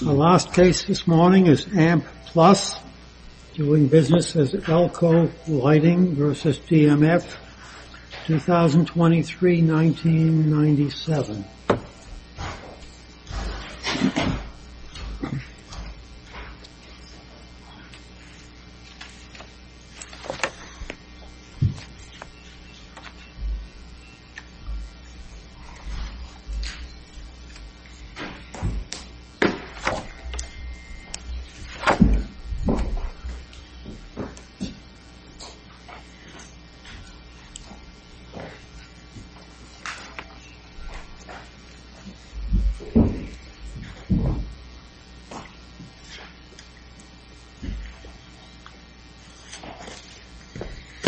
The last case this morning is AMP Plus doing business as Elko Lighting v. DMF, 2023-1997.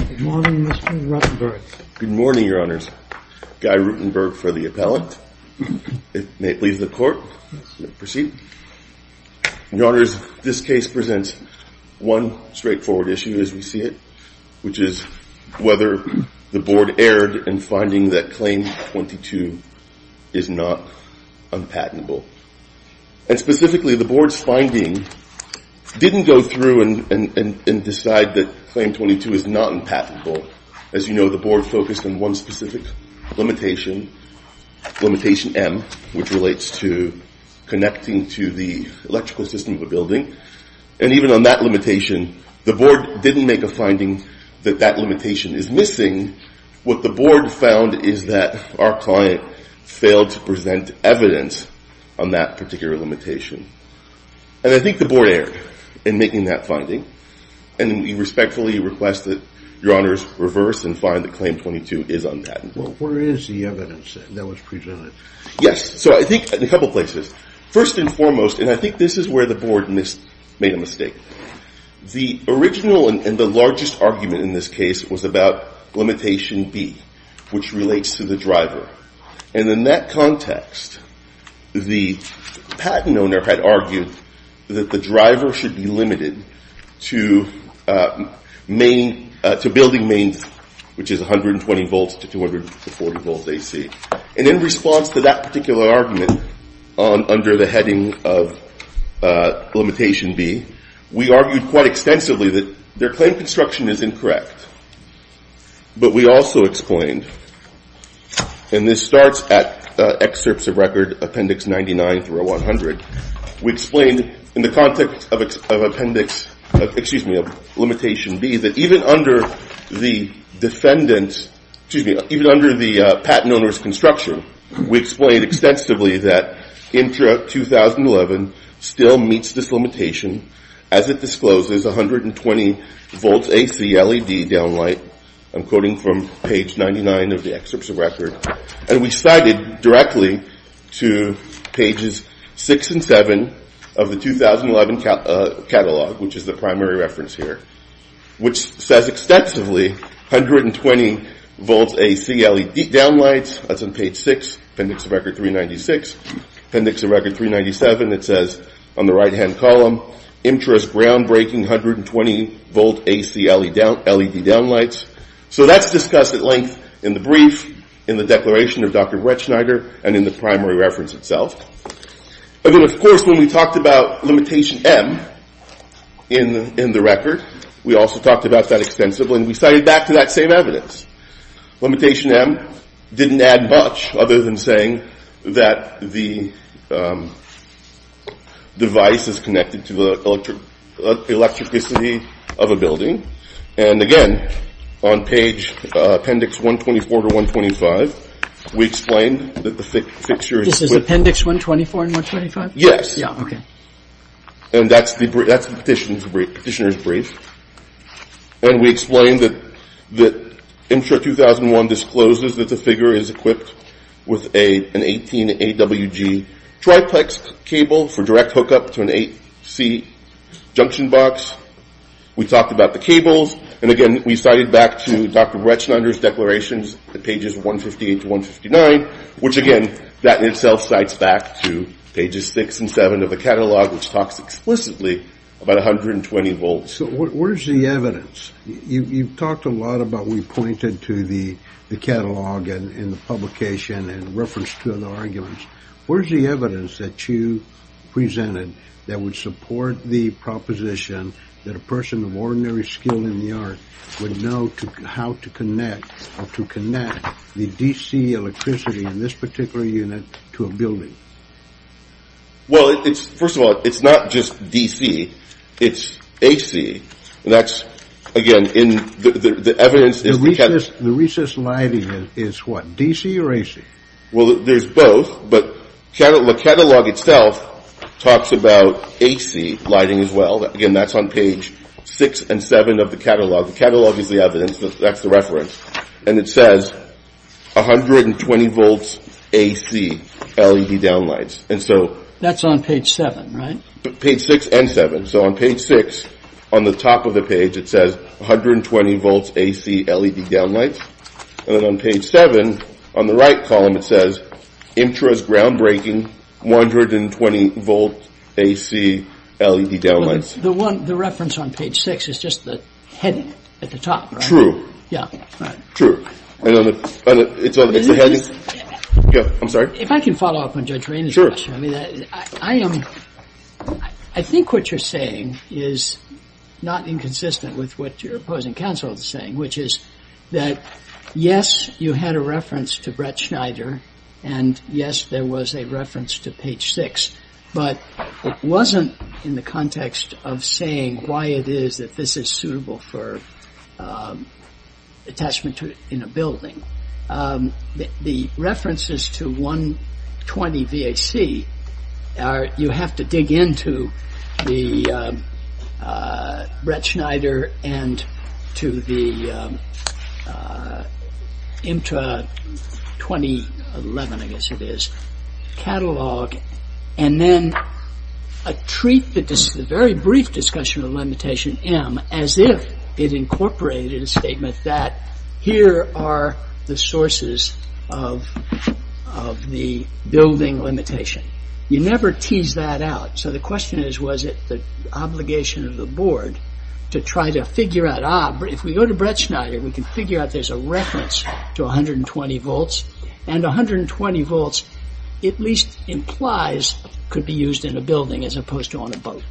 Good morning, Mr. Rutenberg. Good morning, Your Honors. Guy Rutenberg for the appellant. It may leave the court. Proceed. Your Honors, this case presents one straightforward issue as we see it, which is whether the board erred in finding that Claim 22 is not unpatentable. And specifically, the board's finding didn't go through and decide that Claim 22 is not unpatentable. As you know, the board focused on one specific limitation, limitation M, which relates to connecting to the electrical system of a building. And even on that limitation, the board didn't make a finding that that limitation is missing. What the board found is that our client failed to present evidence on that particular limitation. And I think the board erred in making that finding. And we respectfully request that Your Honors reverse and find that Claim 22 is unpatentable. Where is the evidence that was presented? Yes, so I think in a couple places. First and foremost, and I think this is where the board made a mistake, the original and the largest argument in this case was about limitation B, which relates to the driver. And in that context, the patent owner had argued that the driver should be limited to building mains, which is 120 volts to 240 volts AC. And in response to that particular argument under the heading of limitation B, we argued quite extensively that their claim construction is incorrect. But we also explained, and this starts at excerpts of record appendix 99 through 100, we explained in the context of appendix, excuse me, of limitation B, that even under the defendant's, excuse me, even under the patent owner's construction, we explained extensively that Intra 2011 still meets this limitation as it discloses 120 volts AC LED downlight. I'm quoting from page 99 of the excerpts of record. And we cited directly to pages 6 and 7 of the 2011 catalog, which is the primary reference here, which says extensively 120 volts AC LED downlights. That's on page 6, appendix of record 396. Appendix of record 397, it says on the right hand column, Intra's groundbreaking 120 volt AC LED downlights. So that's discussed at length in the brief, in the declaration of Dr. Bretschneider, and in the primary reference itself. And then, of course, when we talked about limitation M in the record, we also talked about that extensively. And we cited back to that same evidence. Limitation M didn't add much other than saying that the device is connected to the electricity of a building. And again, on page appendix 124 to 125, we explained that the fixture is equipped. This is appendix 124 and 125? Yes. Yeah, OK. And that's the petitioner's brief. And we explained that Intra 2001 discloses that the figure is equipped with an 18 AWG triplex cable for direct hookup to an AC junction box. We talked about the cables. And again, we cited back to Dr. Bretschneider's declarations at pages 158 to 159, which again, that itself cites back to pages six and seven of the catalog, which talks explicitly about 120 volts. So where's the evidence? You've talked a lot about, we pointed to the catalog and the publication and referenced to other arguments. Where's the evidence that you presented that would support the proposition that a person of ordinary skill in the art would know how to connect the DC electricity in this particular unit to a building? Well, first of all, it's not just DC. It's AC. And that's, again, the evidence is the catalog. The recessed lighting is what, DC or AC? Well, there's both. But the catalog itself talks about AC lighting as well. Again, that's on page six and seven of the catalog. The catalog is the evidence. That's the reference. And it says 120 volts AC LED downlights. And so that's on page seven, right? Page six and seven. So on page six, on the top of the page, it says 120 volts AC LED downlights. And then on page seven, on the right column, it says, intros groundbreaking, 120 volt AC LED downlights. The reference on page six is just the heading at the top. Yeah. True. It's the heading. I'm sorry? If I can follow up on Judge Rainey's question. I think what you're saying is not inconsistent with what your opposing counsel is saying, which is that, yes, you had a reference to Brett Schneider. And yes, there was a reference to page six. But it wasn't in the context of saying why it is that this is suitable for attachment in a building. The references to 120 VAC, you have to dig into the Brett Schneider and to the IMTA 2011, I guess it is, catalog. And then treat the very brief discussion of limitation M as if it incorporated a statement that here are the sources of the building limitation. You never tease that out. So the question is, was it the obligation of the board to try to figure out, ah, if we go to Brett Schneider, we can figure out there's a reference to 120 volts. And 120 volts at least implies could be used in a building as opposed to on a boat.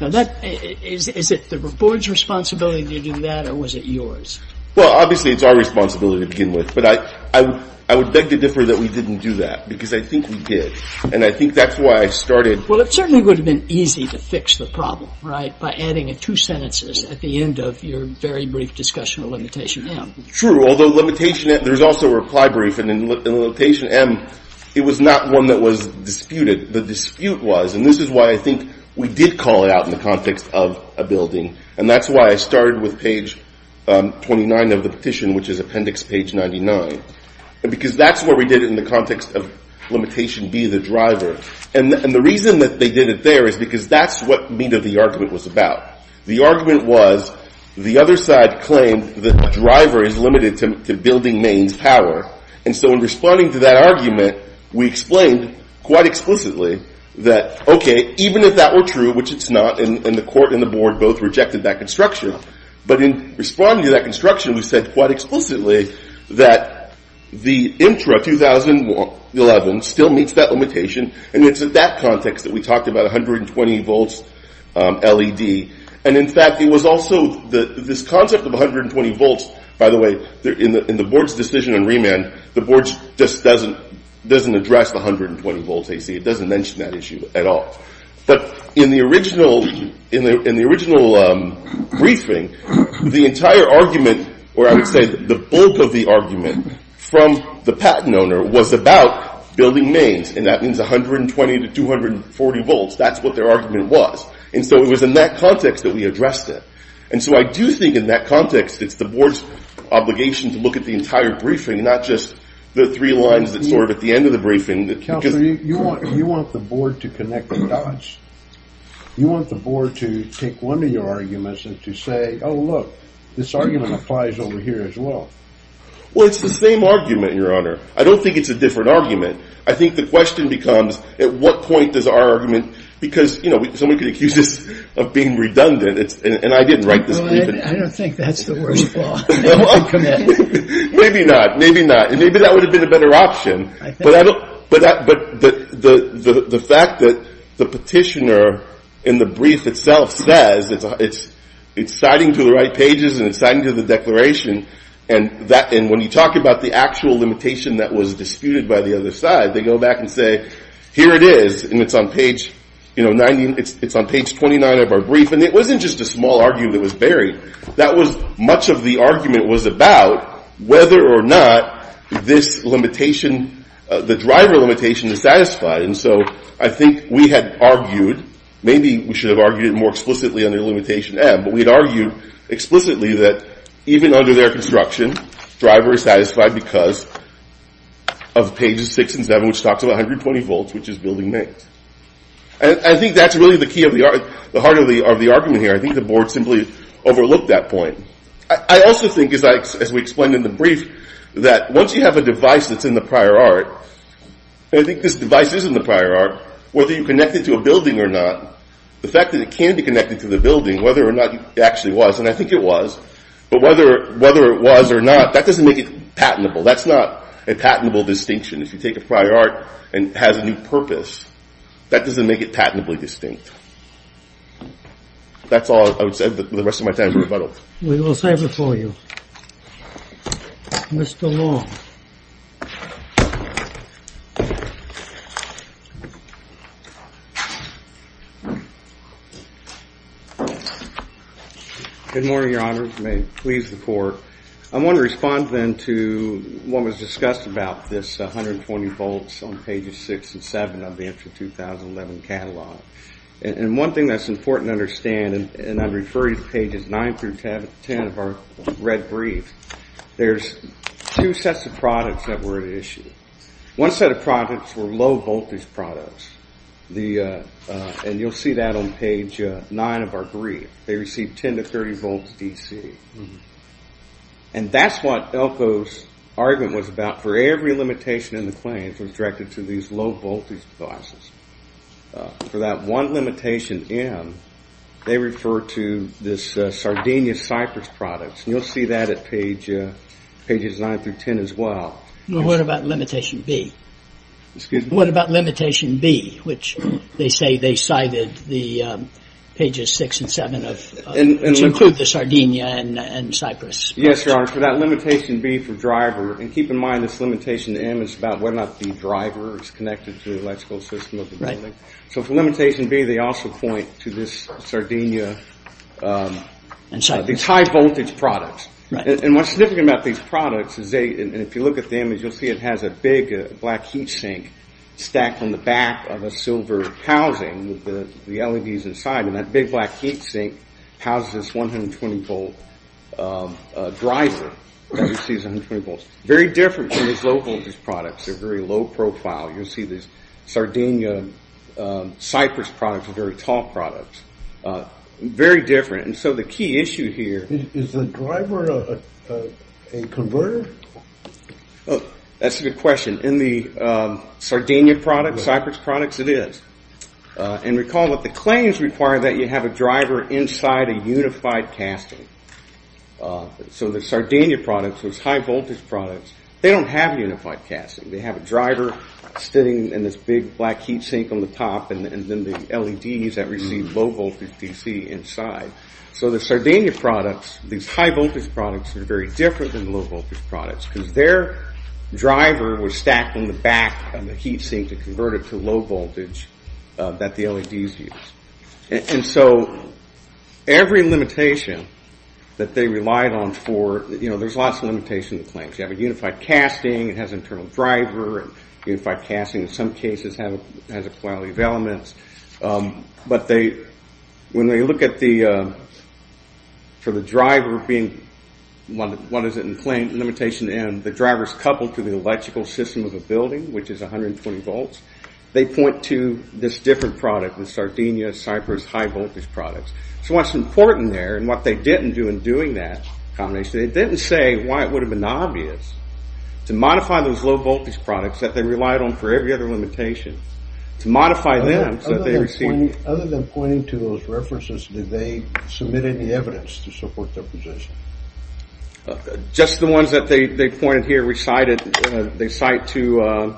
Now, is it the board's responsibility to do that? Or was it yours? Well, obviously, it's our responsibility to begin with. But I would beg to differ that we didn't do that. Because I think we did. And I think that's why I started. Well, it certainly would have been easy to fix the problem, right, by adding two sentences at the end of your very brief discussion of limitation M. True, although limitation M, there's also a reply brief. And in limitation M, it was not one that was disputed. The dispute was. And this is why I think we did call it out in the context of a building. And that's why I started with page 29 of the petition, which is appendix page 99. Because that's what we did in the context of limitation B, the driver. And the reason that they did it there is because that's what meet of the argument was about. The argument was the other side claimed that the driver is limited to building Maine's power. And so in responding to that argument, we explained quite explicitly that, OK, even if that were true, which it's not, and the court and the board both rejected that construction. But in responding to that construction, we said quite explicitly that the IMTRA 2011 still meets that limitation. And it's in that context that we talked about 120 volts LED. And in fact, it was also this concept of 120 volts. By the way, in the board's decision in remand, the board just doesn't address the 120 volts AC. It doesn't mention that issue at all. But in the original briefing, the entire argument, or I would say the bulk of the argument from the patent owner was about building Maine's. And that means 120 to 240 volts. That's what their argument was. And so it was in that context that we addressed it. And so I do think in that context, it's the board's obligation to look at the entire briefing, not just the three lines that's sort of at the end of the briefing. Counselor, you want the board to connect the dots. You want the board to take one of your arguments and to say, oh, look, this argument applies over here as well. Well, it's the same argument, Your Honor. I don't think it's a different argument. I think the question becomes, at what point does our argument, because someone could accuse us of being redundant. And I didn't write this briefing. I don't think that's the worst flaw in the commitment. Maybe not. Maybe not. And maybe that would have been a better option. But the fact that the petitioner in the brief itself says it's citing to the right pages and it's citing to the declaration, and when you talk about the actual limitation that was disputed by the other side, they go back and say, here it is, and it's on page 29 of our brief. And it wasn't just a small argument that was buried. That was much of the argument was about whether or not this limitation, the driver limitation, is satisfied. And so I think we had argued, maybe we should have argued more explicitly under limitation M, but we'd argue explicitly that even under their construction, driver is satisfied because of pages 6 and 7, which talks about 120 volts, which is building mains. And I think that's really the key of the argument here. I think the board simply overlooked that point. I also think, as we explained in the brief, that once you have a device that's in the prior art, and I think this device is in the prior art, whether you connect it to a building or not, the fact that it can be connected to the building, whether or not it actually was, and I think it was, but whether it was or not, that doesn't make it patentable. That's not a patentable distinction. If you take a prior art and it has a new purpose, that doesn't make it patentably distinct. That's all I would say. The rest of my time is rebuttal. We will sign before you. Mr. Long. Good morning, Your Honor. May it please the court. I want to respond then to what was discussed about this 120 volts on pages 6 and 7 of the entry 2011 catalog. And one thing that's important to understand, and I'm referring to pages 9 through 10 of our red brief, there's two sets of products that were at issue. One set of products were low voltage products. And you'll see that on page 9 of our brief. They received 10 to 30 volts DC. And that's what Elko's argument was about. For every limitation in the claims was directed to these low voltage devices. For that one limitation, M, they refer to this Sardinia Cypress products. You'll see that at pages 9 through 10 as well. What about limitation B? Excuse me? What about limitation B, which they say they cited the pages 6 and 7 of, to include the Sardinia and Cypress? Yes, Your Honor, for that limitation B for driver, and keep in mind this limitation M is about whether or not the driver is connected to the electrical system of the building. So for limitation B, they also point to this Sardinia and Cypress, these high voltage products. And what's significant about these products is they, and if you look at the image, you'll see it has a big black heat sink stacked on the back of a silver housing with the LEDs inside. And that big black heat sink houses this 120 volt driver. You see it's 120 volts. Very different from these low voltage products. They're very low profile. You'll see this Sardinia Cypress products are very tall products. Very different. And so the key issue here. Is the driver a converter? That's a good question. In the Sardinia products, Cypress products, it is. And recall that the claims require that you have a driver inside a unified casting. So the Sardinia products, those high voltage products, they don't have unified casting. They have a driver sitting in this big black heat sink on the top, and then the LEDs that receive low voltage DC inside. So the Sardinia products, these high voltage products, are very different than the low voltage products because their driver was stacked on the back of the heat sink to convert it to low voltage that the LEDs use. And so every limitation that they relied on for, there's lots of limitation to claims. You have a unified casting. It has an internal driver. Unified casting, in some cases, has a plenty of elements. But when they look at the, for the driver being, what is it in claim, limitation, and the driver's coupled to the electrical system of a building, which is 120 volts, they point to this different product in Sardinia, Cypress, high voltage products. So what's important there, and what they didn't do in doing that combination, they didn't say why it would have been obvious to modify those low voltage products that they relied on for every other limitation. To modify them, so that they received. Other than pointing to those references, did they submit any evidence to support their position? Just the ones that they pointed here recited, they cite to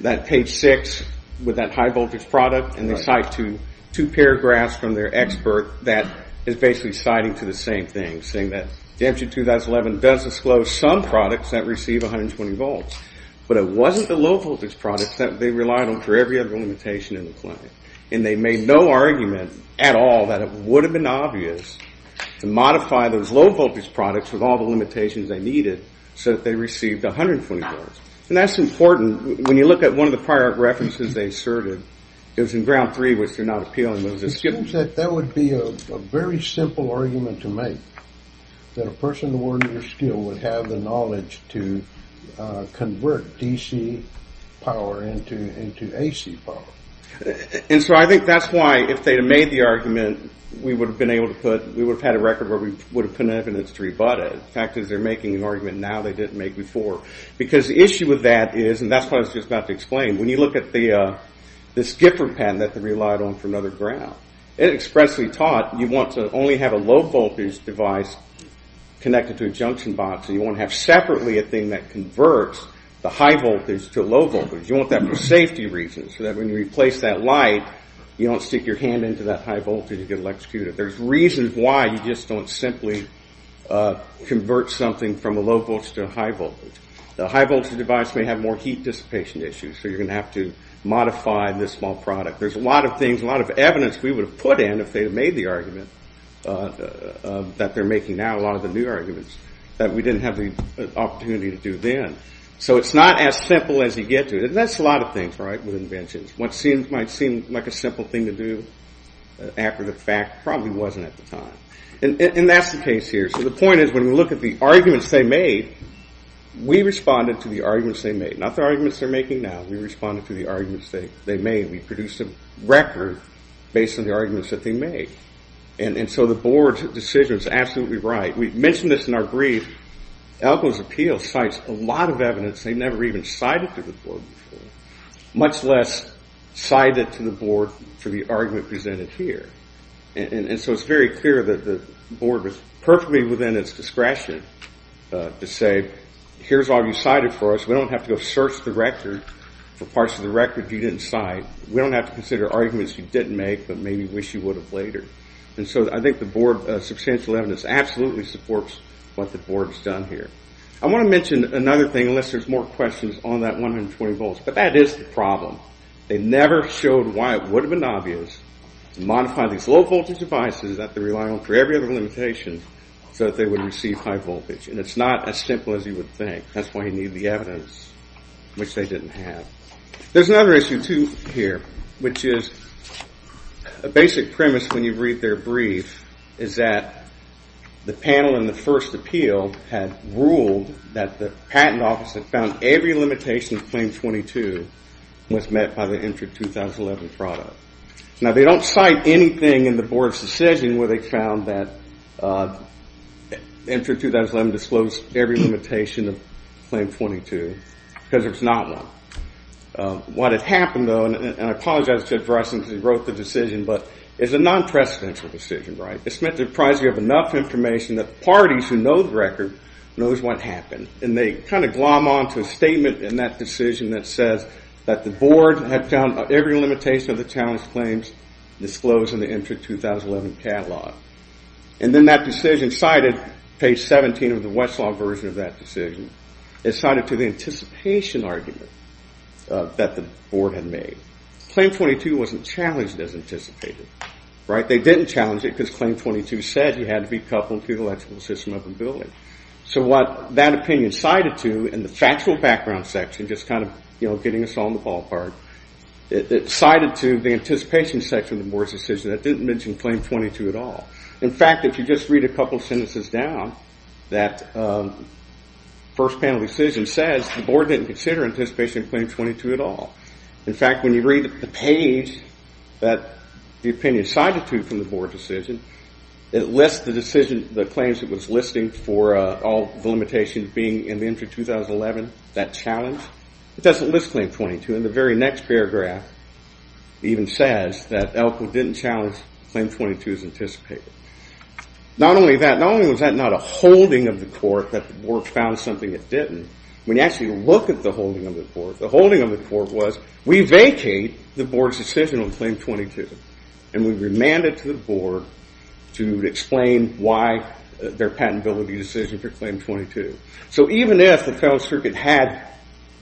that page six with that high voltage product, and they cite to two paragraphs from their expert that is basically citing to the same thing, saying that DMG 2011 does disclose some products that receive 120 volts. But it wasn't the low voltage products that they relied on for every other limitation in the claim. And they made no argument at all that it would have been obvious to modify those low voltage products with all the limitations they needed, so that they received 120 volts. And that's important. When you look at one of the prior references they asserted, it was in ground three, which they're not appealing. It seems that that would be a very simple argument to make, that a person awarded your skill would have the knowledge to convert DC power into AC power. And so I think that's why, if they had made the argument, we would have been able to put, we would have had a record where we would have put evidence to rebut it. The fact is, they're making an argument now they didn't make before. Because the issue with that is, and that's what I was just about to explain, when you look at this Gifford patent that they relied on for another ground, it expressly taught you want to only have a low voltage device connected to a junction box, and you want to have separately a thing that converts the high voltage to low voltage. You want that for safety reasons, so that when you replace that light, you don't stick your hand into that high voltage and get electrocuted. There's reasons why you just don't simply convert something from a low voltage to a high voltage. The high voltage device may have more heat dissipation issues, so you're going to have to modify this small product. There's a lot of things, a lot of evidence we would have put in if they had made the argument that they're making now, a lot of the new arguments, that we didn't have the opportunity to do then. So it's not as simple as you get to it. And that's a lot of things with inventions. What might seem like a simple thing to do after the fact probably wasn't at the time. And that's the case here. So the point is, when you look at the arguments they made, we responded to the arguments they made. Not the arguments they're making now, we responded to the arguments they made. We produced a record based on the arguments that they made. And so the board's decision is absolutely right. We've mentioned this in our brief. Alco's Appeal cites a lot of evidence they've never even cited to the board before, much less cited to the board for the argument presented here. And so it's very clear that the board was perfectly within its discretion to say, here's all you cited for us. We don't have to go search the record for parts of the record you didn't cite. We don't have to consider arguments you didn't make, but maybe wish you would have later. And so I think the board's substantial evidence absolutely supports what the board's done here. I want to mention another thing, unless there's more questions on that 120 volts. But that is the problem. They never showed why it would have been obvious to modify these low voltage devices that they rely on for every other limitation so that they would receive high voltage. And it's not as simple as you would think. That's why you need the evidence, which they didn't have. There's another issue too here, which is a basic premise when you read their brief is that the panel in the first appeal had ruled that the patent office had found every limitation of claim 22 was met by the entry 2011 product. Now, they don't cite anything in the board's decision where they found that entry 2011 disclosed every limitation of claim 22, because there's not one. What had happened, though, and I apologize to address since we wrote the decision, but it's a non-precedential decision, right? It's meant to prize you of enough information that parties who know the record knows what happened. And they kind of glom on to a statement in that decision that says that the board had found every limitation of the challenge claims disclosed in the entry 2011 catalog. And then that decision cited page 17 of the Westlaw version of that decision. It cited to the anticipation argument that the board had made. Claim 22 wasn't challenged as anticipated, right? They didn't challenge it because claim 22 said it had to be coupled to the electrical system of the building. So what that opinion cited to in the factual background section, just kind of getting us on the ballpark, it cited to the anticipation section of the board's decision that didn't mention claim 22 at all. In fact, if you just read a couple sentences down, that first panel decision says the board didn't consider anticipation of claim 22 at all. In fact, when you read the page that the opinion cited to from the board decision, it lists the decision, the claims it was listing for all the limitations being in the entry 2011, that challenge, it doesn't list claim 22. And the very next paragraph even says that Elko didn't challenge claim 22 as anticipated. Not only that, not only was that not a holding of the court that the board found something it didn't, when you actually look at the holding of the court, the holding of the court was we vacate the board's decision on claim 22. And we remand it to the board to explain why their patentability decision for claim 22. So even if the federal circuit had,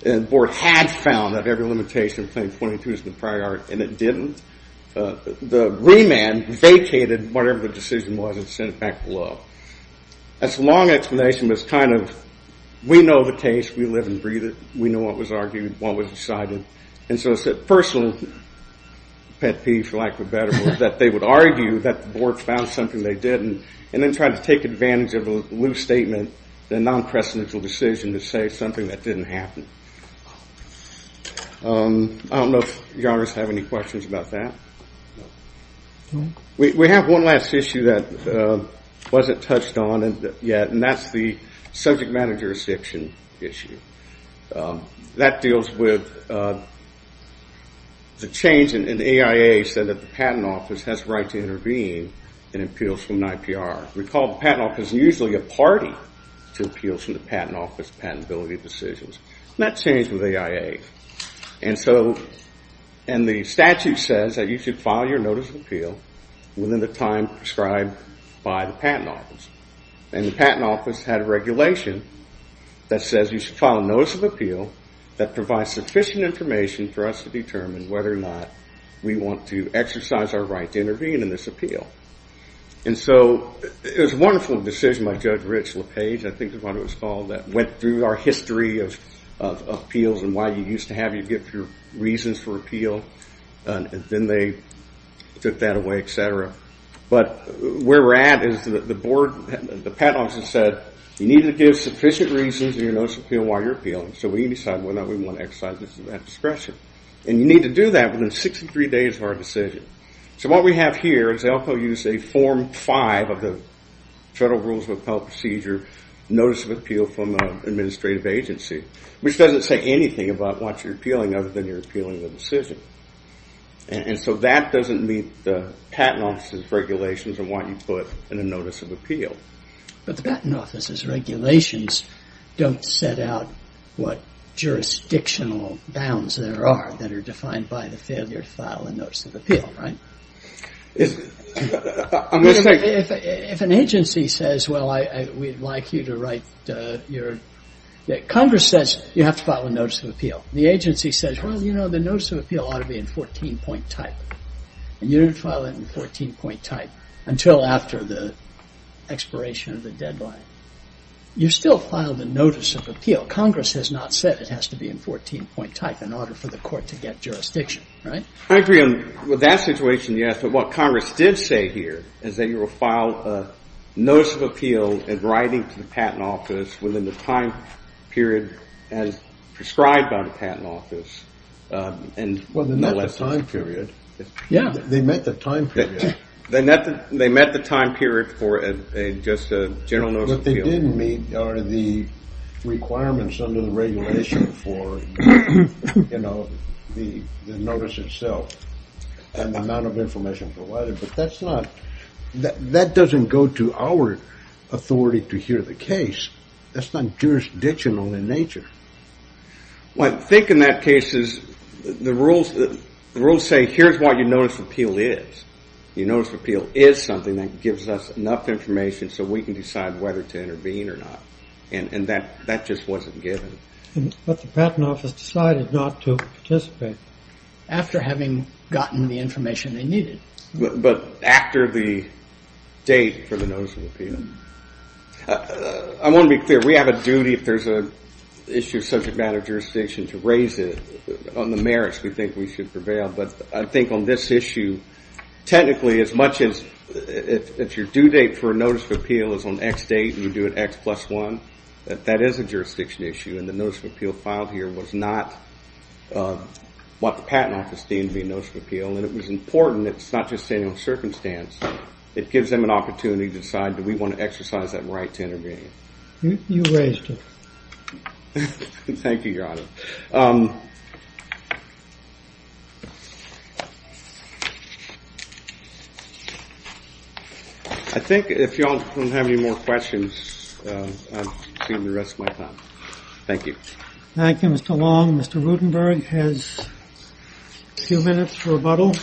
and the board had found that every limitation of claim 22 is in the prior art, and it didn't, the remand vacated whatever the decision was and sent it back below. That's a long explanation, but it's kind of, we know the case, we live and breathe it, we know what was argued, what was decided. And so it's a personal pet peeve, for lack of a better word, that they would argue that the board found something they didn't, and then try to take advantage of a loose statement, the non-presidential decision to say something that didn't happen. I don't know if your honors have any questions about that. We have one last issue that wasn't touched on yet, and that's the subject matter jurisdiction issue. That deals with the change in the AIA said that the patent office has the right to intervene in appeals from NIPR. Recall the patent office is usually a party to appeals from the patent office patentability decisions. That changed with AIA. And so, and the statute says that you should file your notice of appeal within the time prescribed by the patent office. And the patent office had a regulation that says you should file a notice of appeal that provides sufficient information for us to determine whether or not we want to exercise our right to intervene in this appeal. And so it was a wonderful decision by Judge Rich LaPage, I think is what it was called, that went through our history of appeals and why you used to have your reasons for appeal. And then they took that away, et cetera. But where we're at is that the board, the patent office has said, you need to give sufficient reasons in your notice of appeal while you're appealing. So we need to decide whether or not we want to exercise this discretion. And you need to do that within 63 days of our decision. So what we have here is they also use a form five of the Federal Rules of Appeal Procedure notice of appeal from an administrative agency, which doesn't say anything about what you're appealing other than you're appealing the decision. And so that doesn't meet the patent office's regulations and what you put in a notice of appeal. But the patent office's regulations don't set out what jurisdictional bounds there are that are defined by the failure to file a notice of appeal, right? I'm just saying. If an agency says, well, we'd like you to write your, that Congress says you have to file a notice of appeal. The agency says, well, you know, the notice of appeal ought to be in 14 point type. And you didn't file it in 14 point type until after the expiration of the deadline. You still filed a notice of appeal. Congress has not said it has to be in 14 point type in order for the court to get jurisdiction, right? I agree with that situation, yes. But what Congress did say here is that you will file a notice of appeal in writing to the patent office within the time period as prescribed by the patent office. And no less than that. Yeah, they met the time period. They met the time period for just a general notice of appeal. What they didn't meet are the requirements under the regulation for the notice itself and the amount of information provided. But that's not, that doesn't go to our authority to hear the case. That's not jurisdictional in nature. Well, I think in that case, the rules say here's what your notice of appeal is. Your notice of appeal is something that gives us enough information so we can decide whether to intervene or not. And that just wasn't given. But the patent office decided not to participate after having gotten the information they needed. But after the date for the notice of appeal. I want to be clear, we have a duty, if there's an issue of subject matter jurisdiction, to raise it on the merits we think we should prevail. But I think on this issue, technically, as much as if your due date for a notice of appeal is on X date and you do it X plus one, that that is a jurisdiction issue. And the notice of appeal filed here was not what the patent office deemed to be a notice of appeal. And it was important, it's not just a circumstance. It gives them an opportunity to decide, do we want to exercise that right to intervene? You raised it. Thank you, Your Honor. I think if y'all don't have any more questions, I've seen the rest of my time. Thank you. Thank you, Mr. Long. Mr. Rudenberg has a few minutes for rebuttal.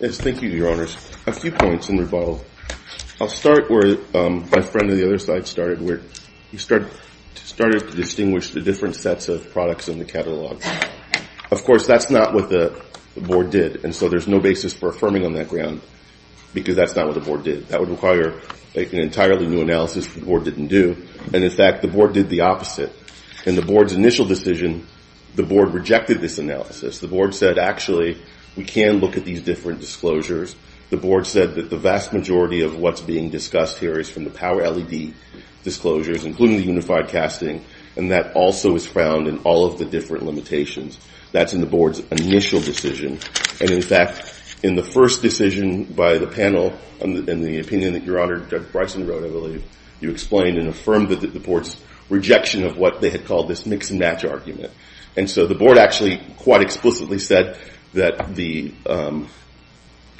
Yes, thank you, Your Honors. A few points in rebuttal. I'll start where my friend on the other side started, where he started to distinguish the different sets of products in the catalog. Of course, that's not what the board did. And so there's no basis for affirming on that ground, because that's not what the board did. That would require an entirely new analysis that the board didn't do. And in fact, the board did the opposite. In the board's initial decision, the board rejected this analysis. The board said, actually, we can look at these different disclosures. The board said that the vast majority of what's being discussed here is from the power LED disclosures, including the unified casting. And that also is found in all of the different limitations. That's in the board's initial decision. And in fact, in the first decision by the panel in the opinion that Your Honor, Judge Bryson wrote, I believe, you explained and affirmed that the board's rejection of what they had called this mix and match argument. And so the board actually quite explicitly said that the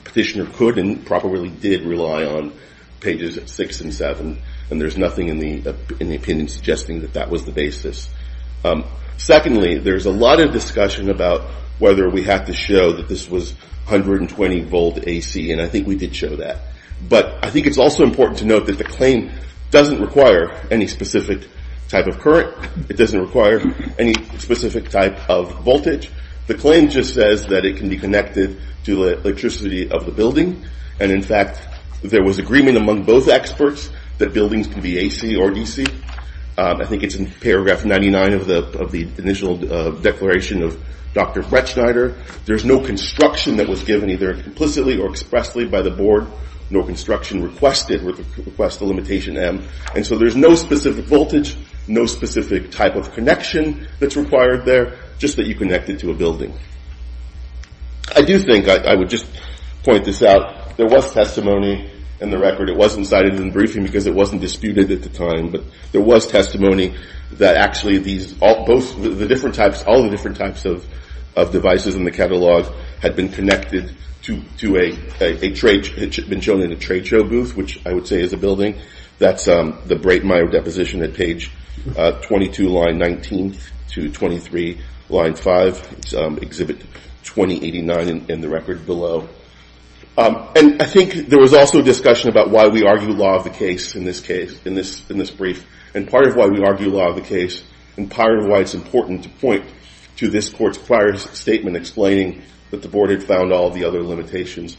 petitioner could and probably did rely on pages six and seven. And there's nothing in the opinion suggesting that that was the basis. Secondly, there's a lot of discussion about whether we have to show that this was 120 volt AC. And I think we did show that. But I think it's also important to note that the claim doesn't require any specific type of current. It doesn't require any specific type of voltage. The claim just says that it can be connected to the electricity of the building. And in fact, there was agreement among both experts that buildings can be AC or DC. I think it's in paragraph 99 of the initial declaration of Dr. Bretschneider. There's no construction that was given either implicitly or expressly by the board, nor construction requested with the request of limitation M. And so there's no specific voltage, no specific type of connection that's required there, just that you connect it to a building. I do think I would just point this out. There was testimony in the record. It wasn't cited in the briefing because it wasn't disputed at the time. But there was testimony that actually these all the different types of devices in the catalog had been connected to a trade show booth, which I would say is a building. That's the Breitmaier deposition at page 22, line 19 to 23, line 5, exhibit 2089 in the record below. And I think there was also a discussion about why we argue law of the case in this brief, and part of why we argue law of the case, and part of why it's important to point to this court's statement explaining that the board had found all the other limitations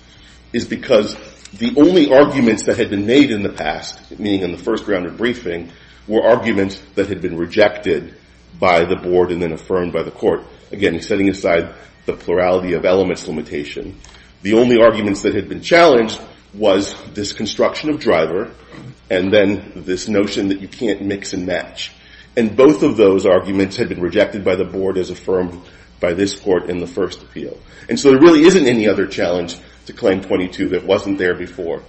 is because the only arguments that had been made in the past, meaning in the first round of briefing, were arguments that had been rejected by the board and then affirmed by the court. Again, setting aside the plurality of elements limitation, the only arguments that had been challenged was this construction of driver and then this notion that you can't mix and match. And both of those arguments had been rejected by the board as affirmed by this court in the first appeal. And so there really isn't any other challenge to claim 22 that wasn't there before.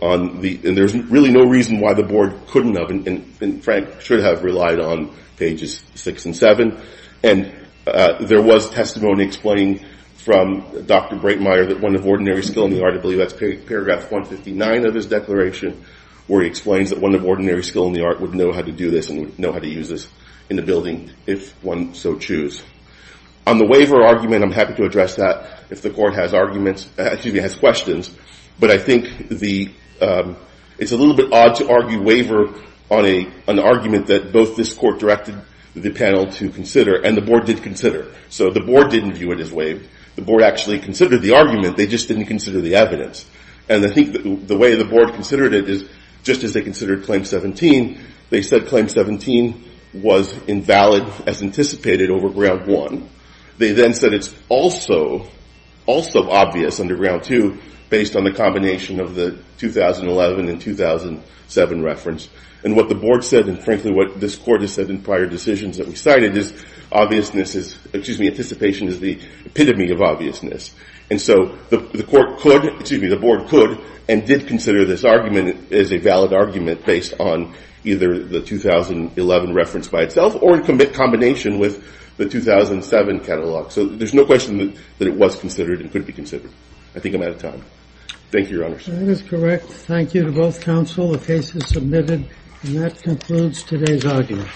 And there's really no reason why the board couldn't have. And Frank should have relied on pages 6 and 7. And there was testimony explained from Dr. Breitmaier that one of ordinary skill in the art, I believe that's paragraph 159 of his declaration, where he explains that one of ordinary skill in the art would know how to do this and would use this in the building if one so choose. On the waiver argument, I'm happy to address that if the court has questions. But I think it's a little bit odd to argue waiver on an argument that both this court directed the panel to consider and the board did consider. So the board didn't view it as waived. The board actually considered the argument. They just didn't consider the evidence. And I think the way the board considered it is just as they considered claim 17, they said claim 17 was invalid as anticipated over ground one. They then said it's also obvious under ground two based on the combination of the 2011 and 2007 reference. And what the board said, and frankly what this court has said in prior decisions that we cited, is obviousness is, excuse me, anticipation is the epitome of obviousness. And so the board could and did consider this argument as a valid argument based on either the 2011 reference by itself or in combination with the 2007 catalog. So there's no question that it was considered and could be considered. I think I'm out of time. Thank you, Your Honors. That is correct. Thank you to both counsel. The case is submitted. And that concludes today's argument.